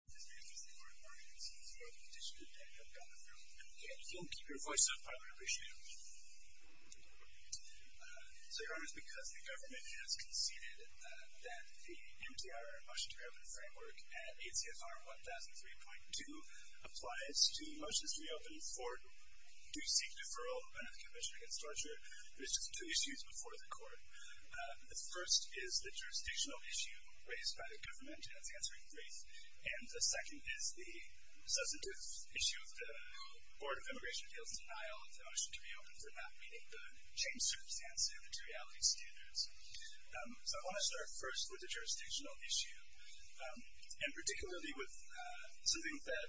M.D.R. Motion to Re-open Framework at ACSR 1003.2 The second is the substantive issue of the Board of Immigration Appeals' denial of the motion to re-open format, meaning the changed circumstances and materiality standards. So I want to start first with the jurisdictional issue. And particularly with something that,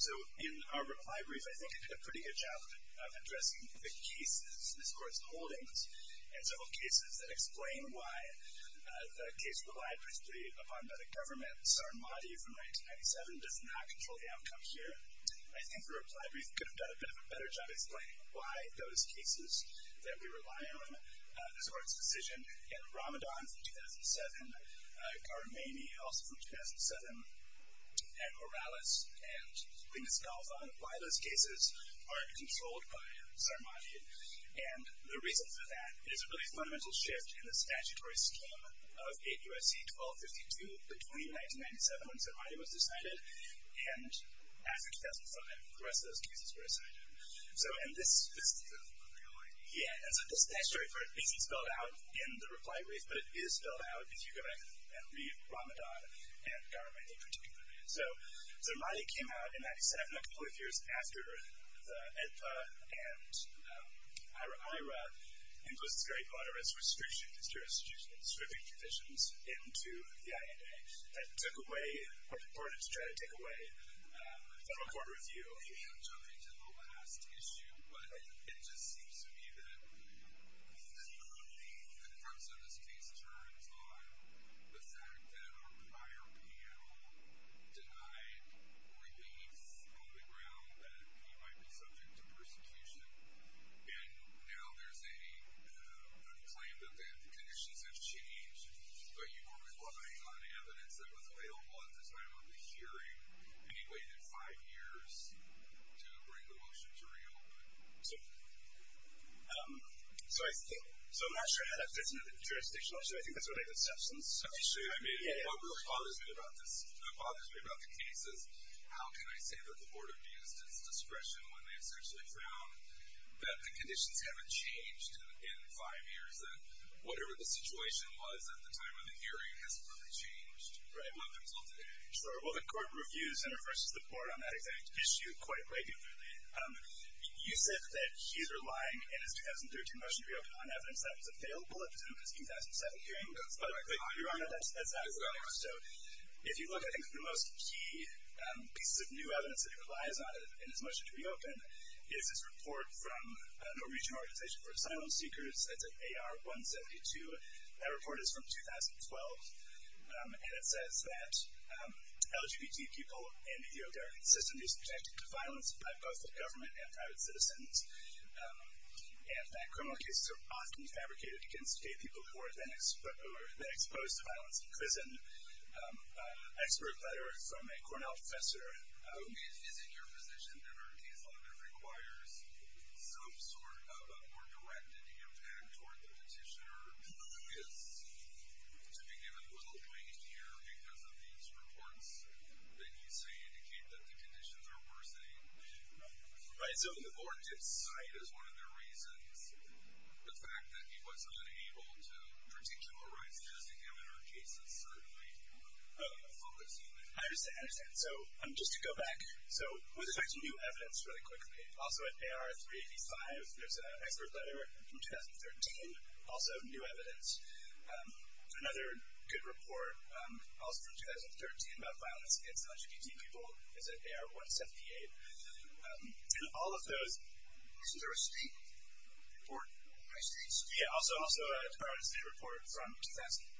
so in our reply brief, I think it did a pretty good job of addressing the cases in this Court's holdings, and several cases that explain why the case relied particularly upon that a government, Sarmadi from 1997, does not control the outcome here. I think the reply brief could have done a bit of a better job explaining why those cases that we rely on, this Court's decision in Ramadan from 2007, Garmaini also from 2007, and Morales and Linus Galvan, why those cases aren't controlled by Sarmadi. And the reason for that is a really fundamental shift in the statutory scheme of 8 U.S.C. 1252 between 1997 when Sarmadi was decided, and after 2005 when the rest of those cases were decided. So, and this, yeah, and so the statutory part isn't spelled out in the reply brief, but it is spelled out if you go back and read Ramadan and Garmaini in particular. So, Sarmadi came out in 1997, a couple of years after the IDPA and IRA imposed very moderate restrictions, jurisprudential restricting provisions into the INA that took away, were reported to try to take away federal court review. I'm jumping to the last issue, but it just seems to me that the focus of this case turns on the fact that our prior panel denied relief on the ground that he might be subject to persecution, and now there's an unclaimed event, conditions have changed, but you were relying on evidence that was available at the time of the hearing. You waited five years to bring the motion to real. So, I think, so I'm not sure how that fits into the jurisdictional issue. I think that's related to substance. I mean, what really bothers me about this, what bothers me about the case is how can I say that the board abused its discretion when they essentially found that the conditions haven't changed in five years, and whatever the situation was at the time of the hearing hasn't really changed. Right. Not until today. Sure. Well, the court reviews and refers to the board on that exact issue quite regularly. You said that he's relying in his 2013 motion to reopen on evidence that was available at the time of his 2007 hearing. That's correct. You're on it. That's accurate. So, if you look, I think one of the most key pieces of new evidence that he relies on in his motion to reopen is this report from Norwegian Organization for Asylum Seekers. It's an AR-172. That report is from 2012, and it says that LGBT people in the European system are subjected to violence by both the government and private citizens, and that criminal cases are often fabricated against gay people who are then exposed to violence in prison. Expert letter from a Cornell professor. Is it your position that our case law that requires some sort of a more directed impact toward the petitioner is to be given little weight here because of these reports that you say indicate that the conditions are worsening? Right. So the board did cite as one of their reasons the fact that he wasn't able to particularize because the governor's case is certainly a focus. I understand. I understand. So, just to go back. So, with respect to new evidence, really quickly, also at AR-385, there's an expert letter from 2013, also new evidence. Another good report also from 2013 about violence against LGBT people is at AR-178. And all of those... Isn't there a state report? High streets? Yeah, also a state report from 2012.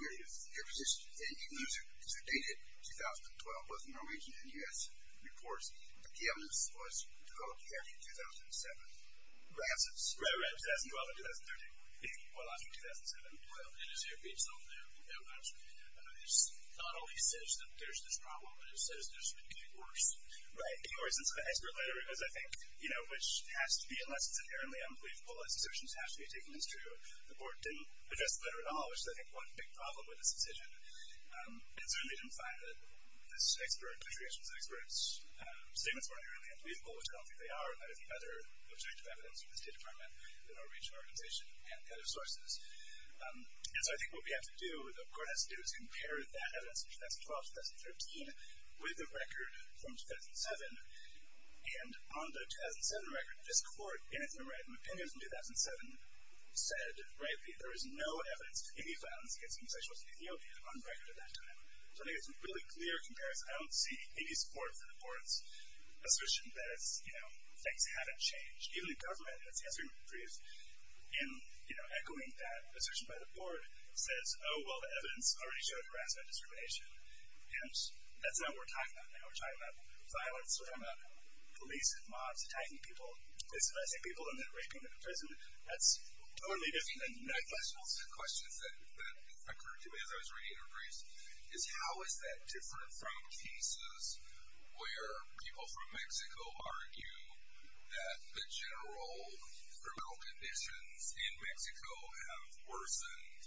Your position? It was a dated 2012, both Norwegian and U.S. reports. The key evidence was 12-13-2007. Ransoms? Right, right. 2012 and 2013. Well, not from 2007. Well, it is there, but it's not there that much. It's not always says that there's this problem, but it says there's really worse. Right. Anyway, since the expert letter is, I think, you know, which has to be, unless it's inherently unbelievable, as the assertions have to be taken as true, the court didn't address the letter at all, which is, I think, one big problem with this decision. And certainly didn't find that this expert, the three experts' statements weren't inherently unbelievable, which I don't think they are. But I think other objective evidence from the State Department, the Norwegian organization, and other sources. And so I think what we have to do, what the court has to do, is compare that evidence, 2012-2013, with the record from 2007. And on the 2007 record, this court, in its memorandum of opinions in 2007, said rightly there is no evidence of any violence against homosexuals in Ethiopia on record at that time. So I think it's a really clear comparison. I don't see any support for the court's assertion that, you know, things haven't changed. Even the government has been briefed in, you know, echoing that assertion by the court, says, oh, well, the evidence already showed harassment and discrimination. And that's not what we're talking about now. We're talking about violence. We're talking about police and mobs attacking people. They're suppressing people and then raping them in prison. That's totally different than the United States. One of the questions that occurred to me as I was reading her briefs is, how is that different from cases where people from Mexico argue that the general criminal conditions in Mexico have worsened,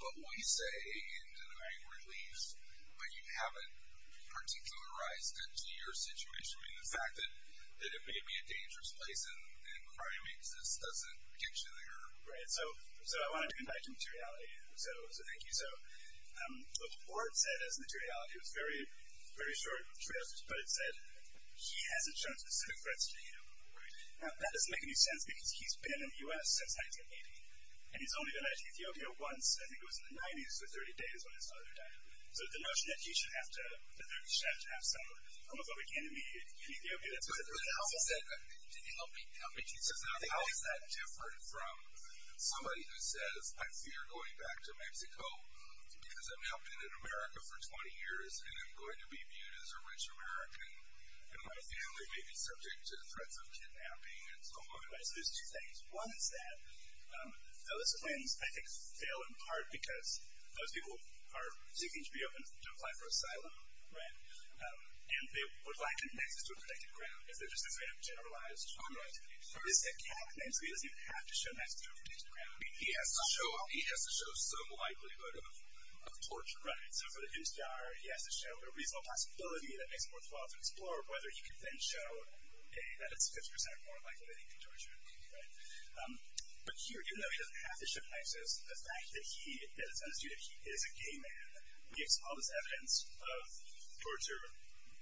but we say in denial and relief, but you haven't particularized it to your situation? I mean, the fact that it may be a dangerous place and crime exists doesn't get you there. Right. So I wanted to invite you to materiality. So thank you. So the court said as materiality, it was very short materiality, but it said, he hasn't shown specific threats to you. Right. Now, that doesn't make any sense because he's been in the U.S. since 1980, and he's only been to Ethiopia once. I think it was in the 90s, the 30 days when his father died. So the notion that he should have to have some homophobic enemy in Ethiopia, that's what it's about. But how is that different from somebody who says, I fear going back to Mexico because I'm helping in America for 20 years and I'm going to be viewed as a rich American, and my family may be subject to threats of kidnapping and so on. Right, so there's two things. One is that those claims, I think, fail in part because those people are seeking to be open to apply for asylum, right, and they would like an access to a protected ground. It's just a very generalized comment. Right. But it's a cath thing, so he doesn't even have to show an access to a protected ground. He has to show some likelihood of torture. Right. So for the new star, he has to show a reasonable possibility that makes it worthwhile to explore whether he can then show that it's 50% more likely that he can torture. Right. But here, even though he doesn't have to show access, the fact that he, that it's understood that he is a gay man, gives all this evidence of torture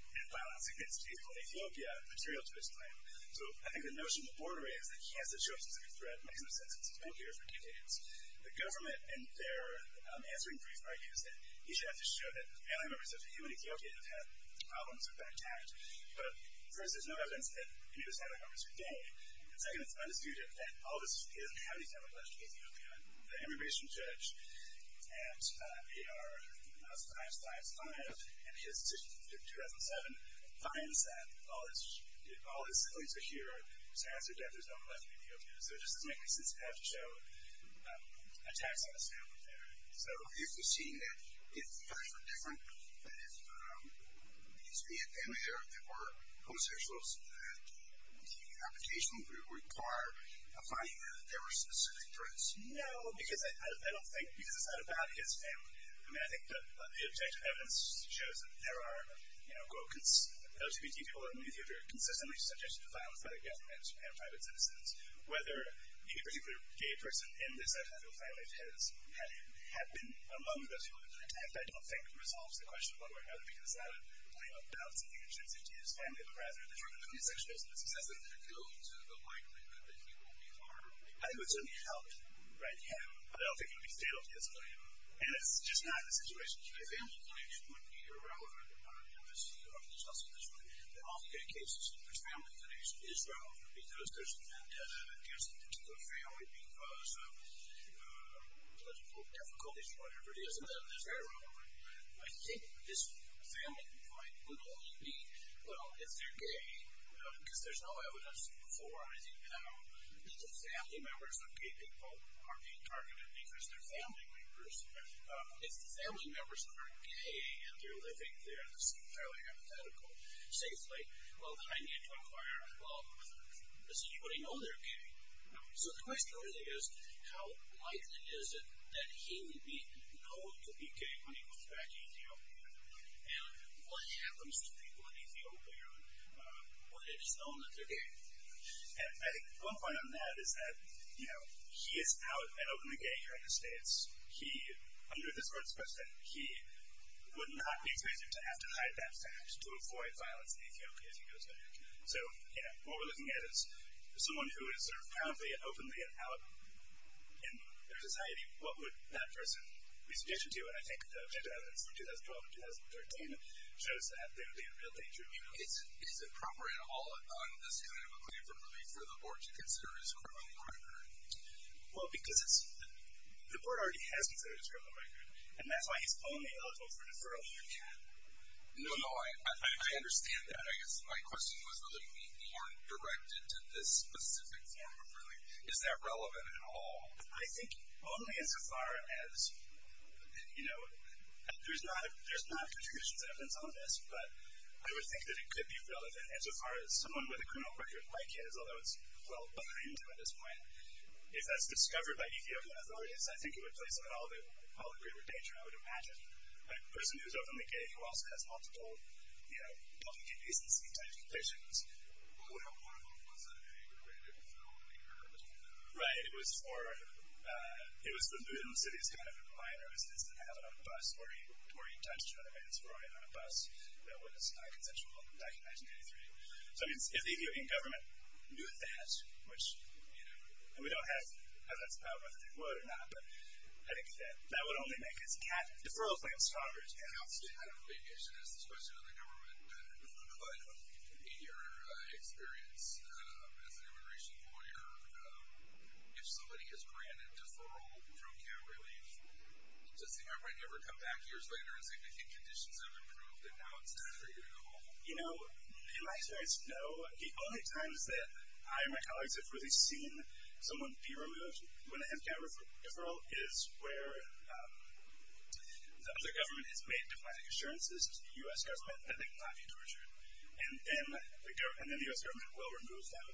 and violence against people in Ethiopia material to his claim. So I think the notion of the border is that he has to show a specific threat, make a specific sentence, both here and for Canadians. The government, in their answering brief, right, is that he should have to show that family members of people in Ethiopia have had problems or been attacked. But, first, there's no evidence that any of his family members are gay. And second, it's undisputed that he doesn't have any family members in Ethiopia. The immigration judge at AR-555 and his decision in 2007 finds that all his families are here. There's no family in Ethiopia. So it doesn't make any sense to have to show attacks on his family there. So, if we're seeing that if the facts were different, that if it used to be a family here that were homosexuals, that the application would require a finding that there were specific threats? No, because I don't think, because it's not about his family. I mean, I think the objective evidence shows that there are, you know, LGBT people in Ethiopia are consistently subject to violence by the government and private citizens. Whether he, particularly a gay person in this Ethiopian family, has been among those people who have been attacked, I don't think resolves the question of whether or not it would be considered a claim of balancing the interests of his family, but rather the term of homosexualism. So does that go into the likelihood that he will be harmed? I think it would certainly help, right, him. But I don't think it would be fatal to his family. And it's just not the situation. A family connection wouldn't be irrelevant, you know, just to go off the tussle this way. In all gay cases, if there's family connection, it is relevant because there's an antenna against a particular family because of, let's just call it difficulties or whatever it is, and then it's very relevant. I think this family complaint would only be, well, if they're gay, because there's no evidence for anything, if the family members of gay people are being targeted because they're family members, if the family members aren't gay and they're living there, which is fairly hypothetical, safely, well, then I need to inquire, well, does anybody know they're gay? So the question really is how likely is it that he would be known to be gay when he goes back to Ethiopia? And what happens to people in Ethiopia when it is known that they're gay? I think one point on that is that, you know, he is out and open again here in the States. Under this Court's precedent, he would not be presumed to have to hide that fact to avoid violence in Ethiopia if he goes back. So, you know, what we're looking at is someone who is sort of proudly and openly and out in their society, what would that person be suggested to? And I think the objective evidence from 2012 and 2013 shows that they would be in real danger. Is it proper at all on this kind of a claim for relief for the Board to consider his criminal partner? Well, because the Board already has considered his criminal partner, and that's why he's only eligible for deferral. No, no, I understand that. I guess my question was a little bit more directed to this specific form of relief. Is that relevant at all? I think only as far as, you know, there's not contributions of evidence on this, but I would think that it could be relevant as far as someone with a criminal partner who is considered by kids, although it's well behind them at this point, if that's discovered by Ethiopian authorities, I think it would place them in all the greater danger, I would imagine. A person who is openly gay who also has multiple, you know, public indecency type conditions. Well, you know, one of them was a great big film, The Inheritor. Right, it was for the Luton City's kind of a minor. It was this ad on a bus where he touched another man's forehead on a bus that was high consensual back in 1993. So, I mean, the Ethiopian government knew that, which, you know, and we don't have as much power whether they would or not, but I think that that would only make his deferral claim stronger. I don't think you should ask this question to the government, but in your experience as an immigration lawyer, if somebody is granted deferral from care relief, does the government ever come back years later and say, I think conditions have improved and now it's time for you to go home? You know, in my experience, no. The only times that I and my colleagues have really seen someone be removed when they have got deferral is where the government has made diplomatic assurances to the U.S. government that they cannot be tortured, and then the U.S. government will remove them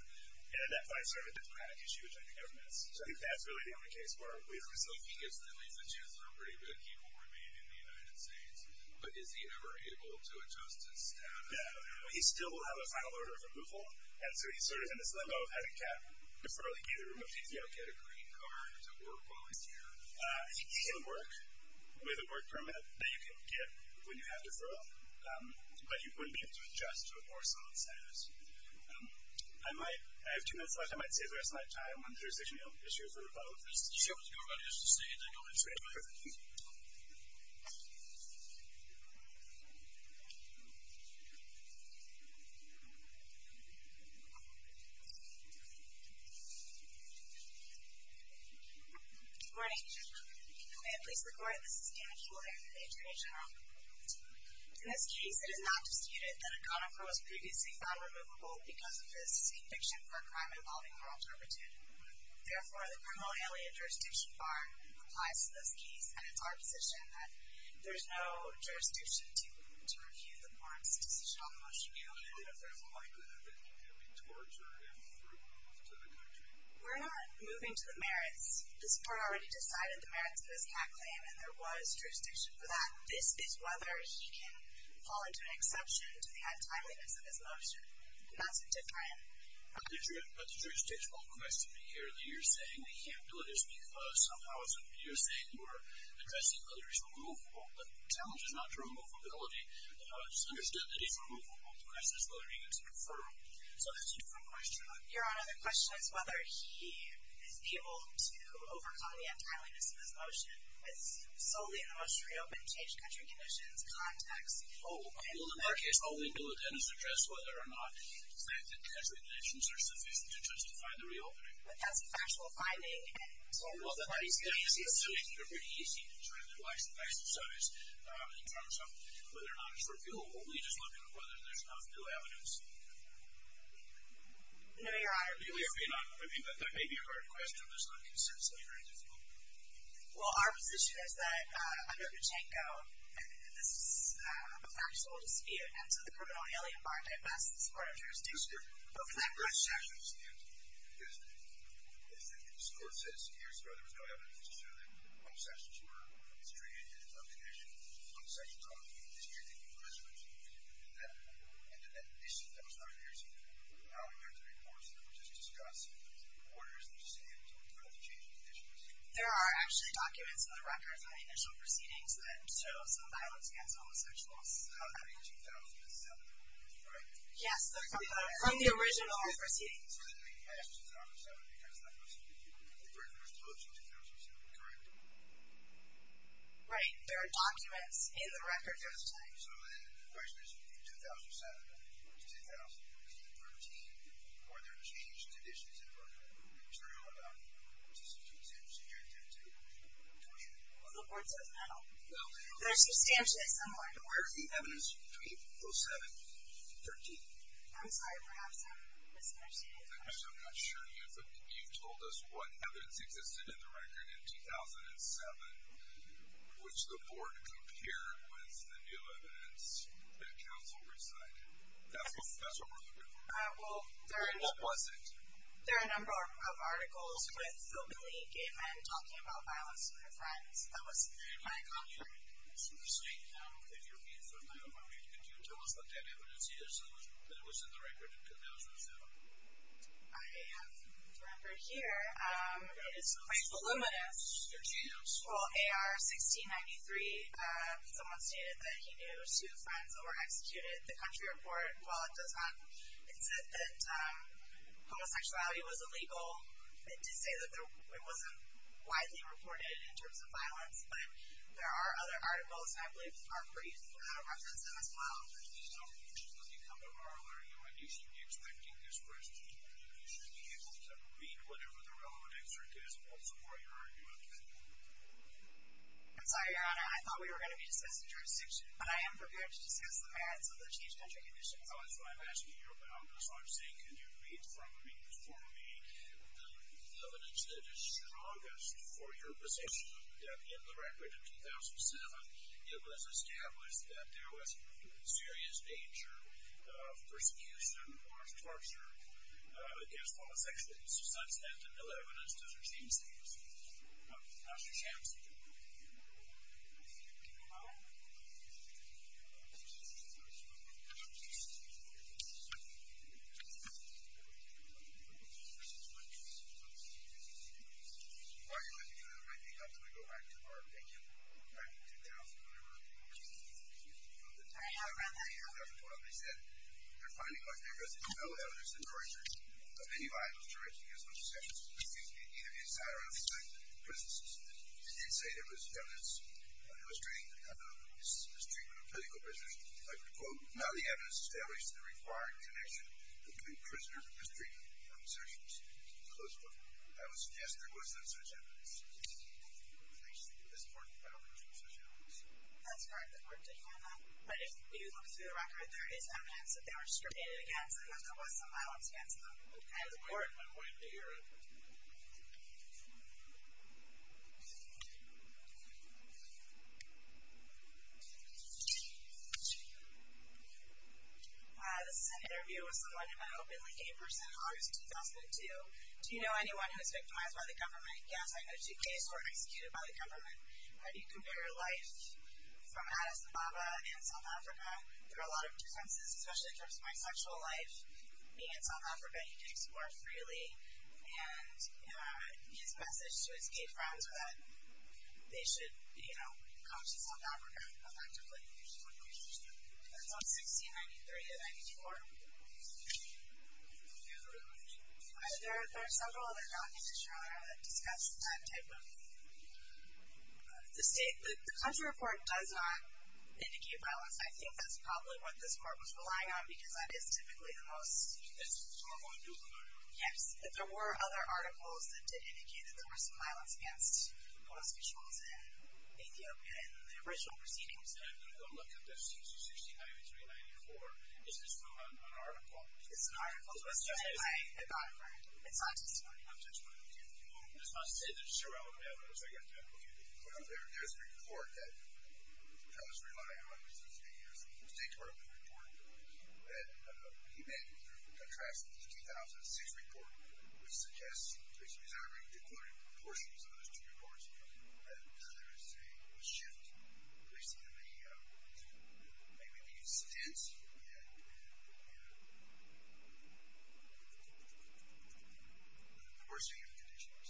and identify a certain diplomatic issue between the governments. So I think that's really the only case where we've seen. So he gets to leave the chancellor pretty good. He will remain in the United States. But is he ever able to adjust his status? He still will have a final order of removal, and so he's sort of in this limbo of having to defer to get a removal. Does he ever get a green card to work while he's here? He can work with a work permit that you can get when you have deferral, but you wouldn't be able to adjust to a more solid status. I have two minutes left. I might say for a slight time on jurisdictional issues or about this. Sure. Good morning. May it please the Court, this is Dan Shuler, the Attorney General. In this case, it is not disputed that a conifer was previously found removable because of his conviction for a crime involving moral turpitude. Therefore, the criminal alien jurisdiction bar applies to this case, and it's our position that there's no jurisdiction to refute the court's decision on the motion. We're not moving to the merits. This Court already decided the merits of his hat claim, and there was jurisdiction for that. This is whether he can fall into an exception to the timeliness of his motion. That's a different item. So that's a different question. Your Honor, the question is whether he is able to overcome the untimeliness of his motion. It's solely in the most reopened, changed country conditions context. Oh, well, in our case, only the lieutenant has addressed whether or not the fact that country conditions are sufficient to justify the reopening. But that's a factual finding. Well, that makes it pretty easy to try to exercise in terms of whether or not it's refutable. We're just looking at whether there's enough new evidence. No, Your Honor. But that may be a hard question. It's not consensually very difficult. Well, our position is that under Pachinko, this is a factual dispute, and so the criminality only embarked, at best, as part of jurisdiction. But for that group of sections, yes. Yes. This Court says here, sir, there was no evidence to show that one of the sections were a misdreavant in his own condition. One of the sections ought to be a misdreavant in his own condition. And in that case, that was not a misdreavant. Now we have the reports that we're just discussing, and the reporters are just saying, well, we're going to have to change the conditions. There are actually documents in the records that show some violence against homosexuals. Yes, from the original proceedings. Right. There are documents in the records. The question is, in 2007, 2013, were there changed conditions in Brooklyn? The Board says no. There's substantial, somewhere. Where is the evidence between 2007 and 2013? I'm sorry, perhaps I'm misunderstanding. I'm not sure you told us what evidence existed in the record in 2007, which the Board compared with the new evidence that counsel recited. That's what we're looking for. What was it? There are a number of articles with homely gay men talking about violence with their friends. That was my conjecture. Excuse me. If you're reading from my own reading, could you tell us what that evidence is that was in the record in 2007? I have the record here. It is quite voluminous. Could you? Well, AR 1693, someone stated that he knew two friends who were executed. The country report, while it does not exist that homosexuality was illegal, it did say that it wasn't widely reported in terms of violence. But there are other articles, I believe, that are pretty representative as well. So let me come to our learning. When you should be expecting this question, you should be able to read whatever the relevant excerpt is, also for your argument. I'm sorry, Your Honor. I thought we were going to be discussing jurisdiction, but I am prepared to discuss the merits of the changed country conditions. That's what I'm asking you about. So I'm saying can you read from me, for me, the evidence that is strongest for your position, that in the record of 2007, it was established that there was serious danger of persecution or of torture against homosexuals. Does that stand to build evidence to change things? Dr. Shams. While you're looking at it, I think I'm going to go back to our opinion back in 2011. At the time I ran my hand up and told them, they said they're finding like there is no evidence in the records of any violence directed against homosexuals, excuse me, either inside or outside the prison system. They did say there was evidence illustrating the conduct of mistreatment of political prisoners. I would quote, Now the evidence establishes the required connection between prisoner mistreatment and persecution. Close quote. I would suggest there was no such evidence. That's correct. But if you look through the record, there is evidence that they were discriminated against and that there was some violence against them. That's correct. I'm willing to hear it. This is an interview with someone who met openly in person in August of 2002. Do you know anyone who was victimized by the government? Yes, I know two cases who were executed by the government. How do you compare life from Addis Ababa in South Africa? There are a lot of differences, especially in terms of my sexual life. Being in South Africa, you can explore freely. And his message to his gay friends was that they should come to South Africa effectively. That's on 1693 and 94. There are several other documents that discuss that type of... The country report does not indicate violence. I think that's probably what this court was relying on because that is typically the most... Yes, there were other articles that did indicate that there was some violence against homosexuals in Ethiopia in the original proceedings. It's an article. It's not testimony. It's a State Department report that he made through a contrast to the 2006 report which suggests... He's already declared portions of those two reports. And now there is a shift, basically, in the... Maybe he's tense. Yeah, he's tense. The worst thing is the conditions.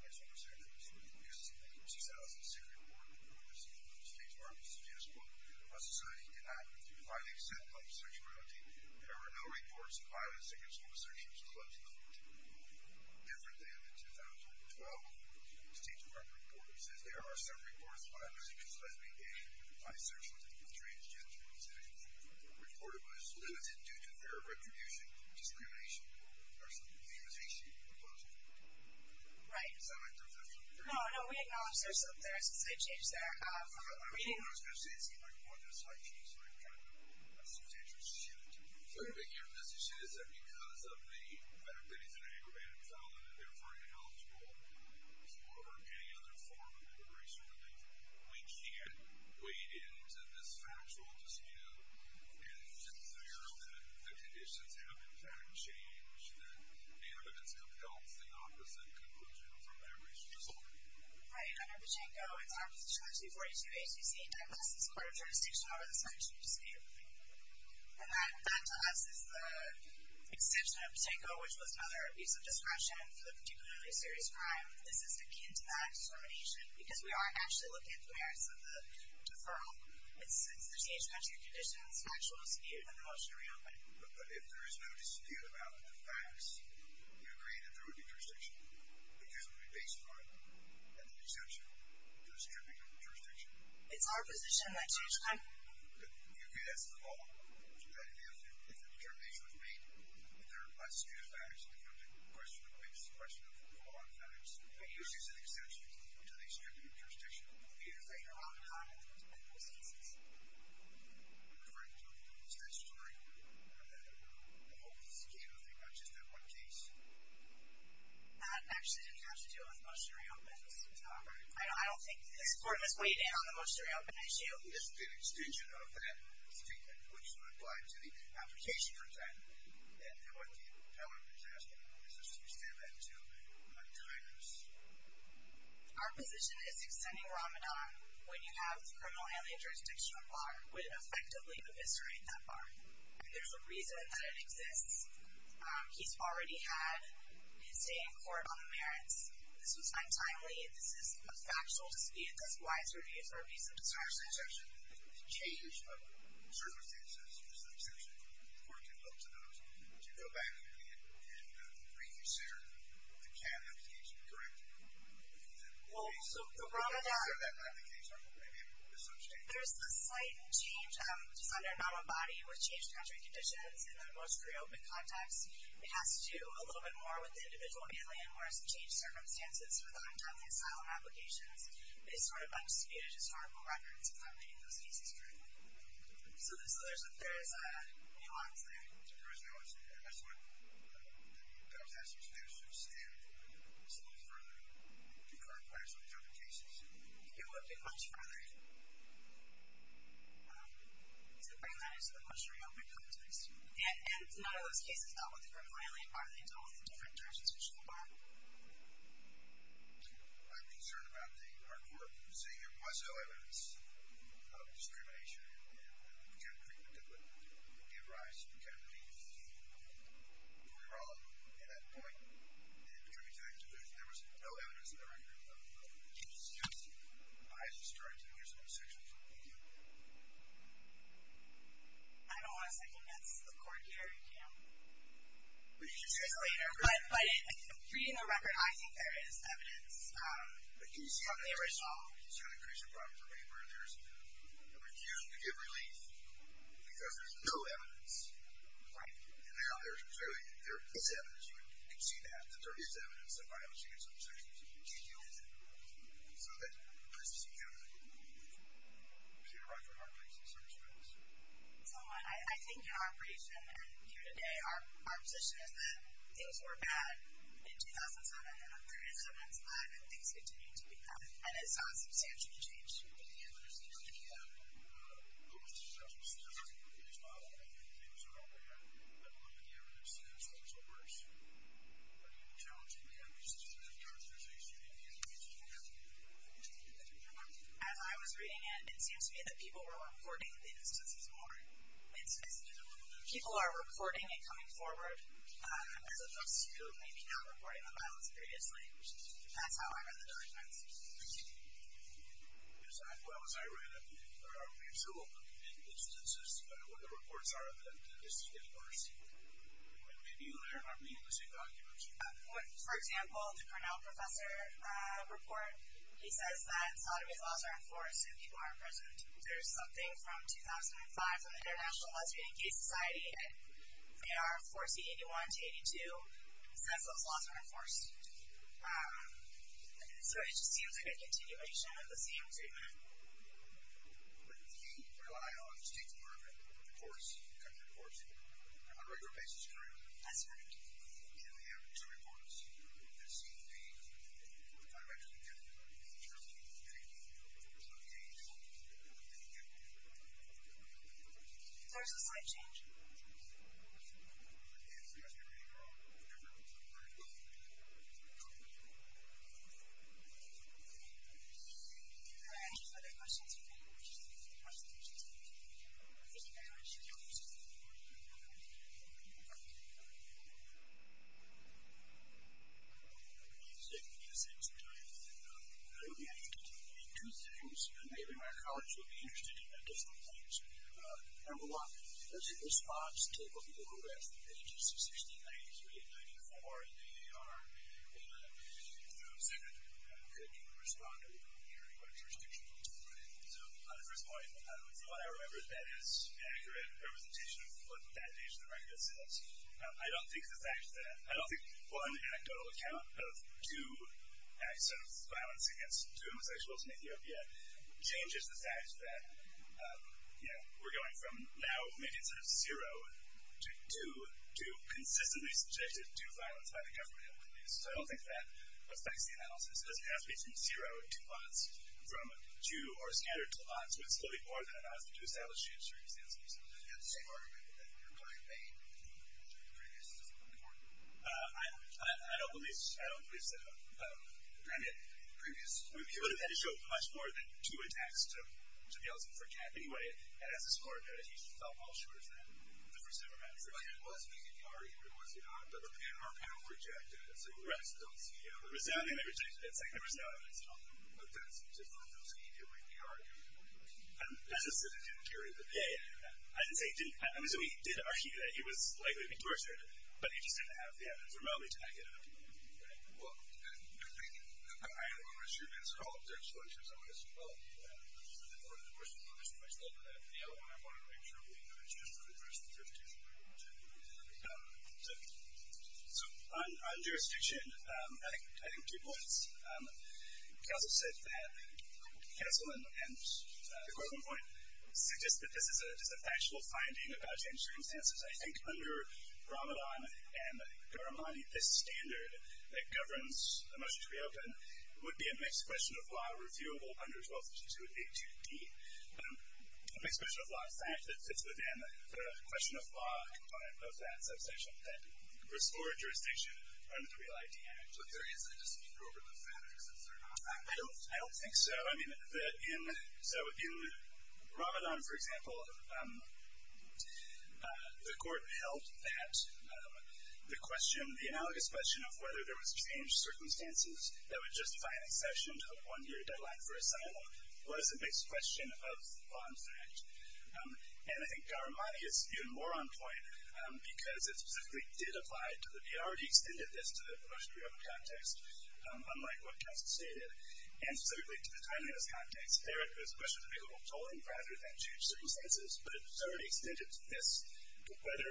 That's what I'm saying. This is the 2006 report from the State Department. It suggests, quote, that while society did not identify the extent of homosexuality, there were no reports of violence against homosexuals in Ethiopia. Different than the 2012 State Department report which says there are some reports of violence against lesbian, gay, bisexual, and transgender women in Ethiopia. The report was limited due to their retribution, discrimination, or some immunization proposal. Does that make sense? No, we acknowledge there's some things that changed there. I mean, I was going to say, it seemed like more than a slight change, but I'm trying to assume it's interesting. So, your message is that because of the benefits and aggravated violence, you're referring to health as well, or any other form of immigration relief, we can't wade into this factual dispute and just say, oh, the conditions have, in fact, changed, and the evidence compels the opposite conclusion from every result. Right. Under Pachinko, it's our position under 242 HCC, I pass this Court of Jurisdiction over this factual dispute. And that, to us, is the exception of Pachinko, which was another abuse of discretion for the particularly serious crime. This is akin to that determination because we are actually looking at the merits of the deferral. It's the changed country conditions, factual dispute, and the motion to reopen. But if there is no dispute about the facts, do you agree that there would be jurisdiction? Because it would be based upon an exemption to a stipulated jurisdiction. It's our position that... Do you agree that's the law? Do you agree that if a determination was made that there are less dispute of facts than there are dispute of facts? I believe this is a question of law and facts. Do you agree it's an exception to a stipulated jurisdiction? Do you agree that there are no consequences? I'm referring to the state's story in the whole case, not just that one case. That actually didn't have to do with motion to reopen. I don't think this court was weighed in on the motion to reopen issue. Isn't it an extension of that statement which would apply to the application for time? And what the power of the judge has to do is extend that to time. Our position is extending Ramadan when you have the criminal alien jurisdiction bar would effectively eviscerate that bar. And there's a reason that it exists. He's already had his day in court on the merits. This was time timely. This is a factual dispute. This is why it's reviewed for abuse of discretion. The change of circumstances is an exception. The court can look to those. To go back and reconsider the Canada case, correct? Well, so Ramadan... You said that not in the case. There's a slight change just on the amount of body with change in country conditions in the motion to reopen context. It has to do a little bit more with the individual alien whereas the change of circumstances for the time-timely asylum applications is sort of undisputed. It's a horrible record. It's about making those cases true. So there's a nuance there. There is now. And that's what the judge has to do is to extend some of the further concurrent players on these other cases. It would be much further to bring that into the motion to reopen context. And none of those cases dealt with the criminal alien bar. They dealt with it in different directions from the bar. I'm concerned about the hard work. You say there was no evidence of discrimination in the country that would give rise to the kind of beef between the two. Were we wrong in that point? In coming to the conclusion there was no evidence in the record of changes in custody. I just tried to hear some of the sections. Thank you. I don't want to second-guess the court here. You can't... We can trickle in here. But reading the record, I think there is evidence from the original. He's trying to create some problem for me where there's a refusal to give relief because there's no evidence. Right. And now there is evidence. You can see that. There is evidence that by a chance of change can be used so that the person can receive a right for hard cases. So there's evidence. So, I think in our creation and here today our position is that things were bad in 2007 and they're in 2007 and things continue to be bad. And it's not a substantial change. In the evidence that you have, what was the substantial change based on how many things are out there that were in the evidence since things were worse? Are you challenging the evidence that's in the authorization and the evidence that you have to continue to do that? As I was reading it, it seems to me that people were reporting the instances more. Instances of what? People are reporting and coming forward as opposed to maybe not reporting the violence previously. That's how I read the documents. I see. As well as I read it, there are a few instances where the reports are that this is getting worse. And maybe you learn by reading the same documents. For example, the Cornell professor report, he says that in Saudi Arabia laws are enforced and people are imprisoned. There's something from 2005 and there's something from the International Laws of Being a Gay Society and they are, of course, the 81 to 82, says those laws are enforced. So it just seems like a continuation of the same treatment. But you rely on State Department reports, government reports, on a regular basis, correct? That's correct. And we have two reports that seem to be in the direction of getting the truth, getting some change, and getting some change. So there's a slight change. There is. And it's not going to be a different kind of news report. But it's a new report. And it's a new report. Okay. Any other questions? If not, we just need to get to the questions. Thank you. Thank you very much. Thank you. Thank you. Thank you. Thank you. I think we've said enough things tonight. I don't think we have to continue to do two things. Maybe my colleagues will be interested in a different point. Number one, does the response take a look at the rest of pages of 1693 and 94 in the AAR? And second, could you respond to the computer equipment restriction that was provided? So on the first point, from what I remember, that is an accurate representation of what that page of the record says. I don't think the fact that I don't think one anecdotal account of two acts of violence against two homosexuals in Ethiopia changes the fact that, you know, we're going from now making sort of zero to two consistently subjected to violence by the government in the Middle East. So I don't think that affects the analysis because it has to be from zero to lots from two or a standard to lots so it's really more than an analysis to establish the history of these instances. Do you have the same argument that you're going to make in your previous report? I don't believe so. I mean, in the previous report he would have had to show much more than two attacks to the elephant for a cat anyway and as a score he felt more sure of that the first time around. But he was making the argument or was he not? But our panel rejected it so the rest don't see it. Resoundingly they rejected it. Secondly, resoundingly they still don't. But that's just one of those that he did make the argument. As I said, it didn't carry the argument. I'm assuming he did argue that he was likely to be tortured but he just didn't have the evidence or knowledge to make it up. Well, I don't want to assume it's at all a jurisdiction as I would as well. I just want to make sure we address the jurisdiction we want to. So, on jurisdiction I think two points. Council said that Council and the question point suggest that this is a factual finding about changing circumstances. I think under Ramadan and Garamani this standard that governs the motion to be open would be a mixed question of law reviewable under 12th statute 82D. A mixed question of law and fact that fits within the question of law component of that subsection that restored jurisdiction under the Creel ID Act. But there is a dispute over the facts, is there not? I don't think so. So, in Ramadan, for example, the court held that the question the analogous question of whether there was changed circumstances that would justify an exception to a one year deadline for asylum was a mixed question of law and fact. And I think Garamani is even more on point because it specifically did apply to the motion to be open context unlike what counsel stated. And specifically to the timeliness context, there it was a question of available tolling rather than changed circumstances but it was already extended to this whether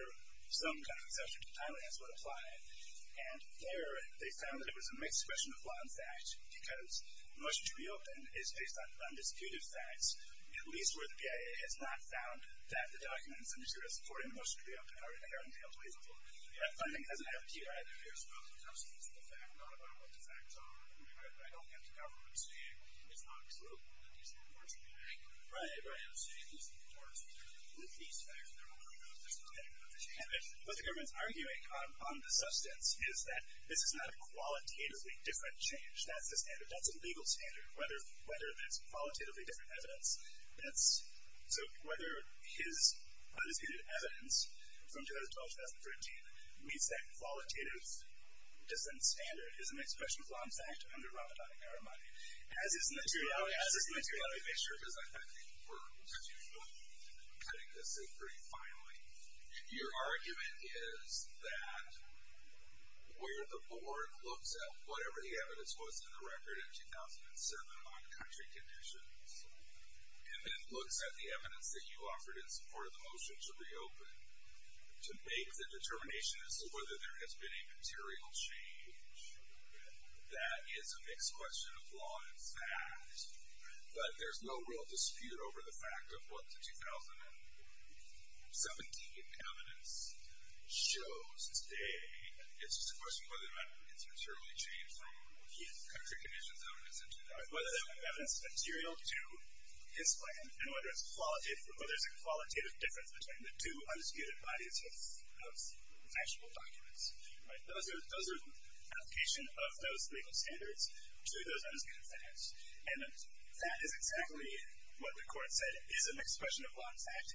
some kind of exception to timeliness would apply. And there they found that it was a mixed question of law and fact because motion to be open is based on undisputed facts at least in this case. And what the government is arguing on the substance is that this is not a qualitatively different change. That's a legal standard, whether it's qualitatively different evidence. So whether his undisputed evidence from your argument is that where the board looks at whatever the evidence was in the record in 2007 on country conditions and then looks at the evidence that you offered in support of the motion to reopen to make the determination as to whether there has been a material change that is a mixed question of law and fact. But there's no real dispute over the fact of what the 2017 evidence shows today. It's just a question of whether the evidence has material to his plan and whether there is a qualitative difference between the two undisputed bodies of factual documents. Those are application of those legal standards to those undisputed facts. And that is exactly what the court said is a mixed question of law and fact in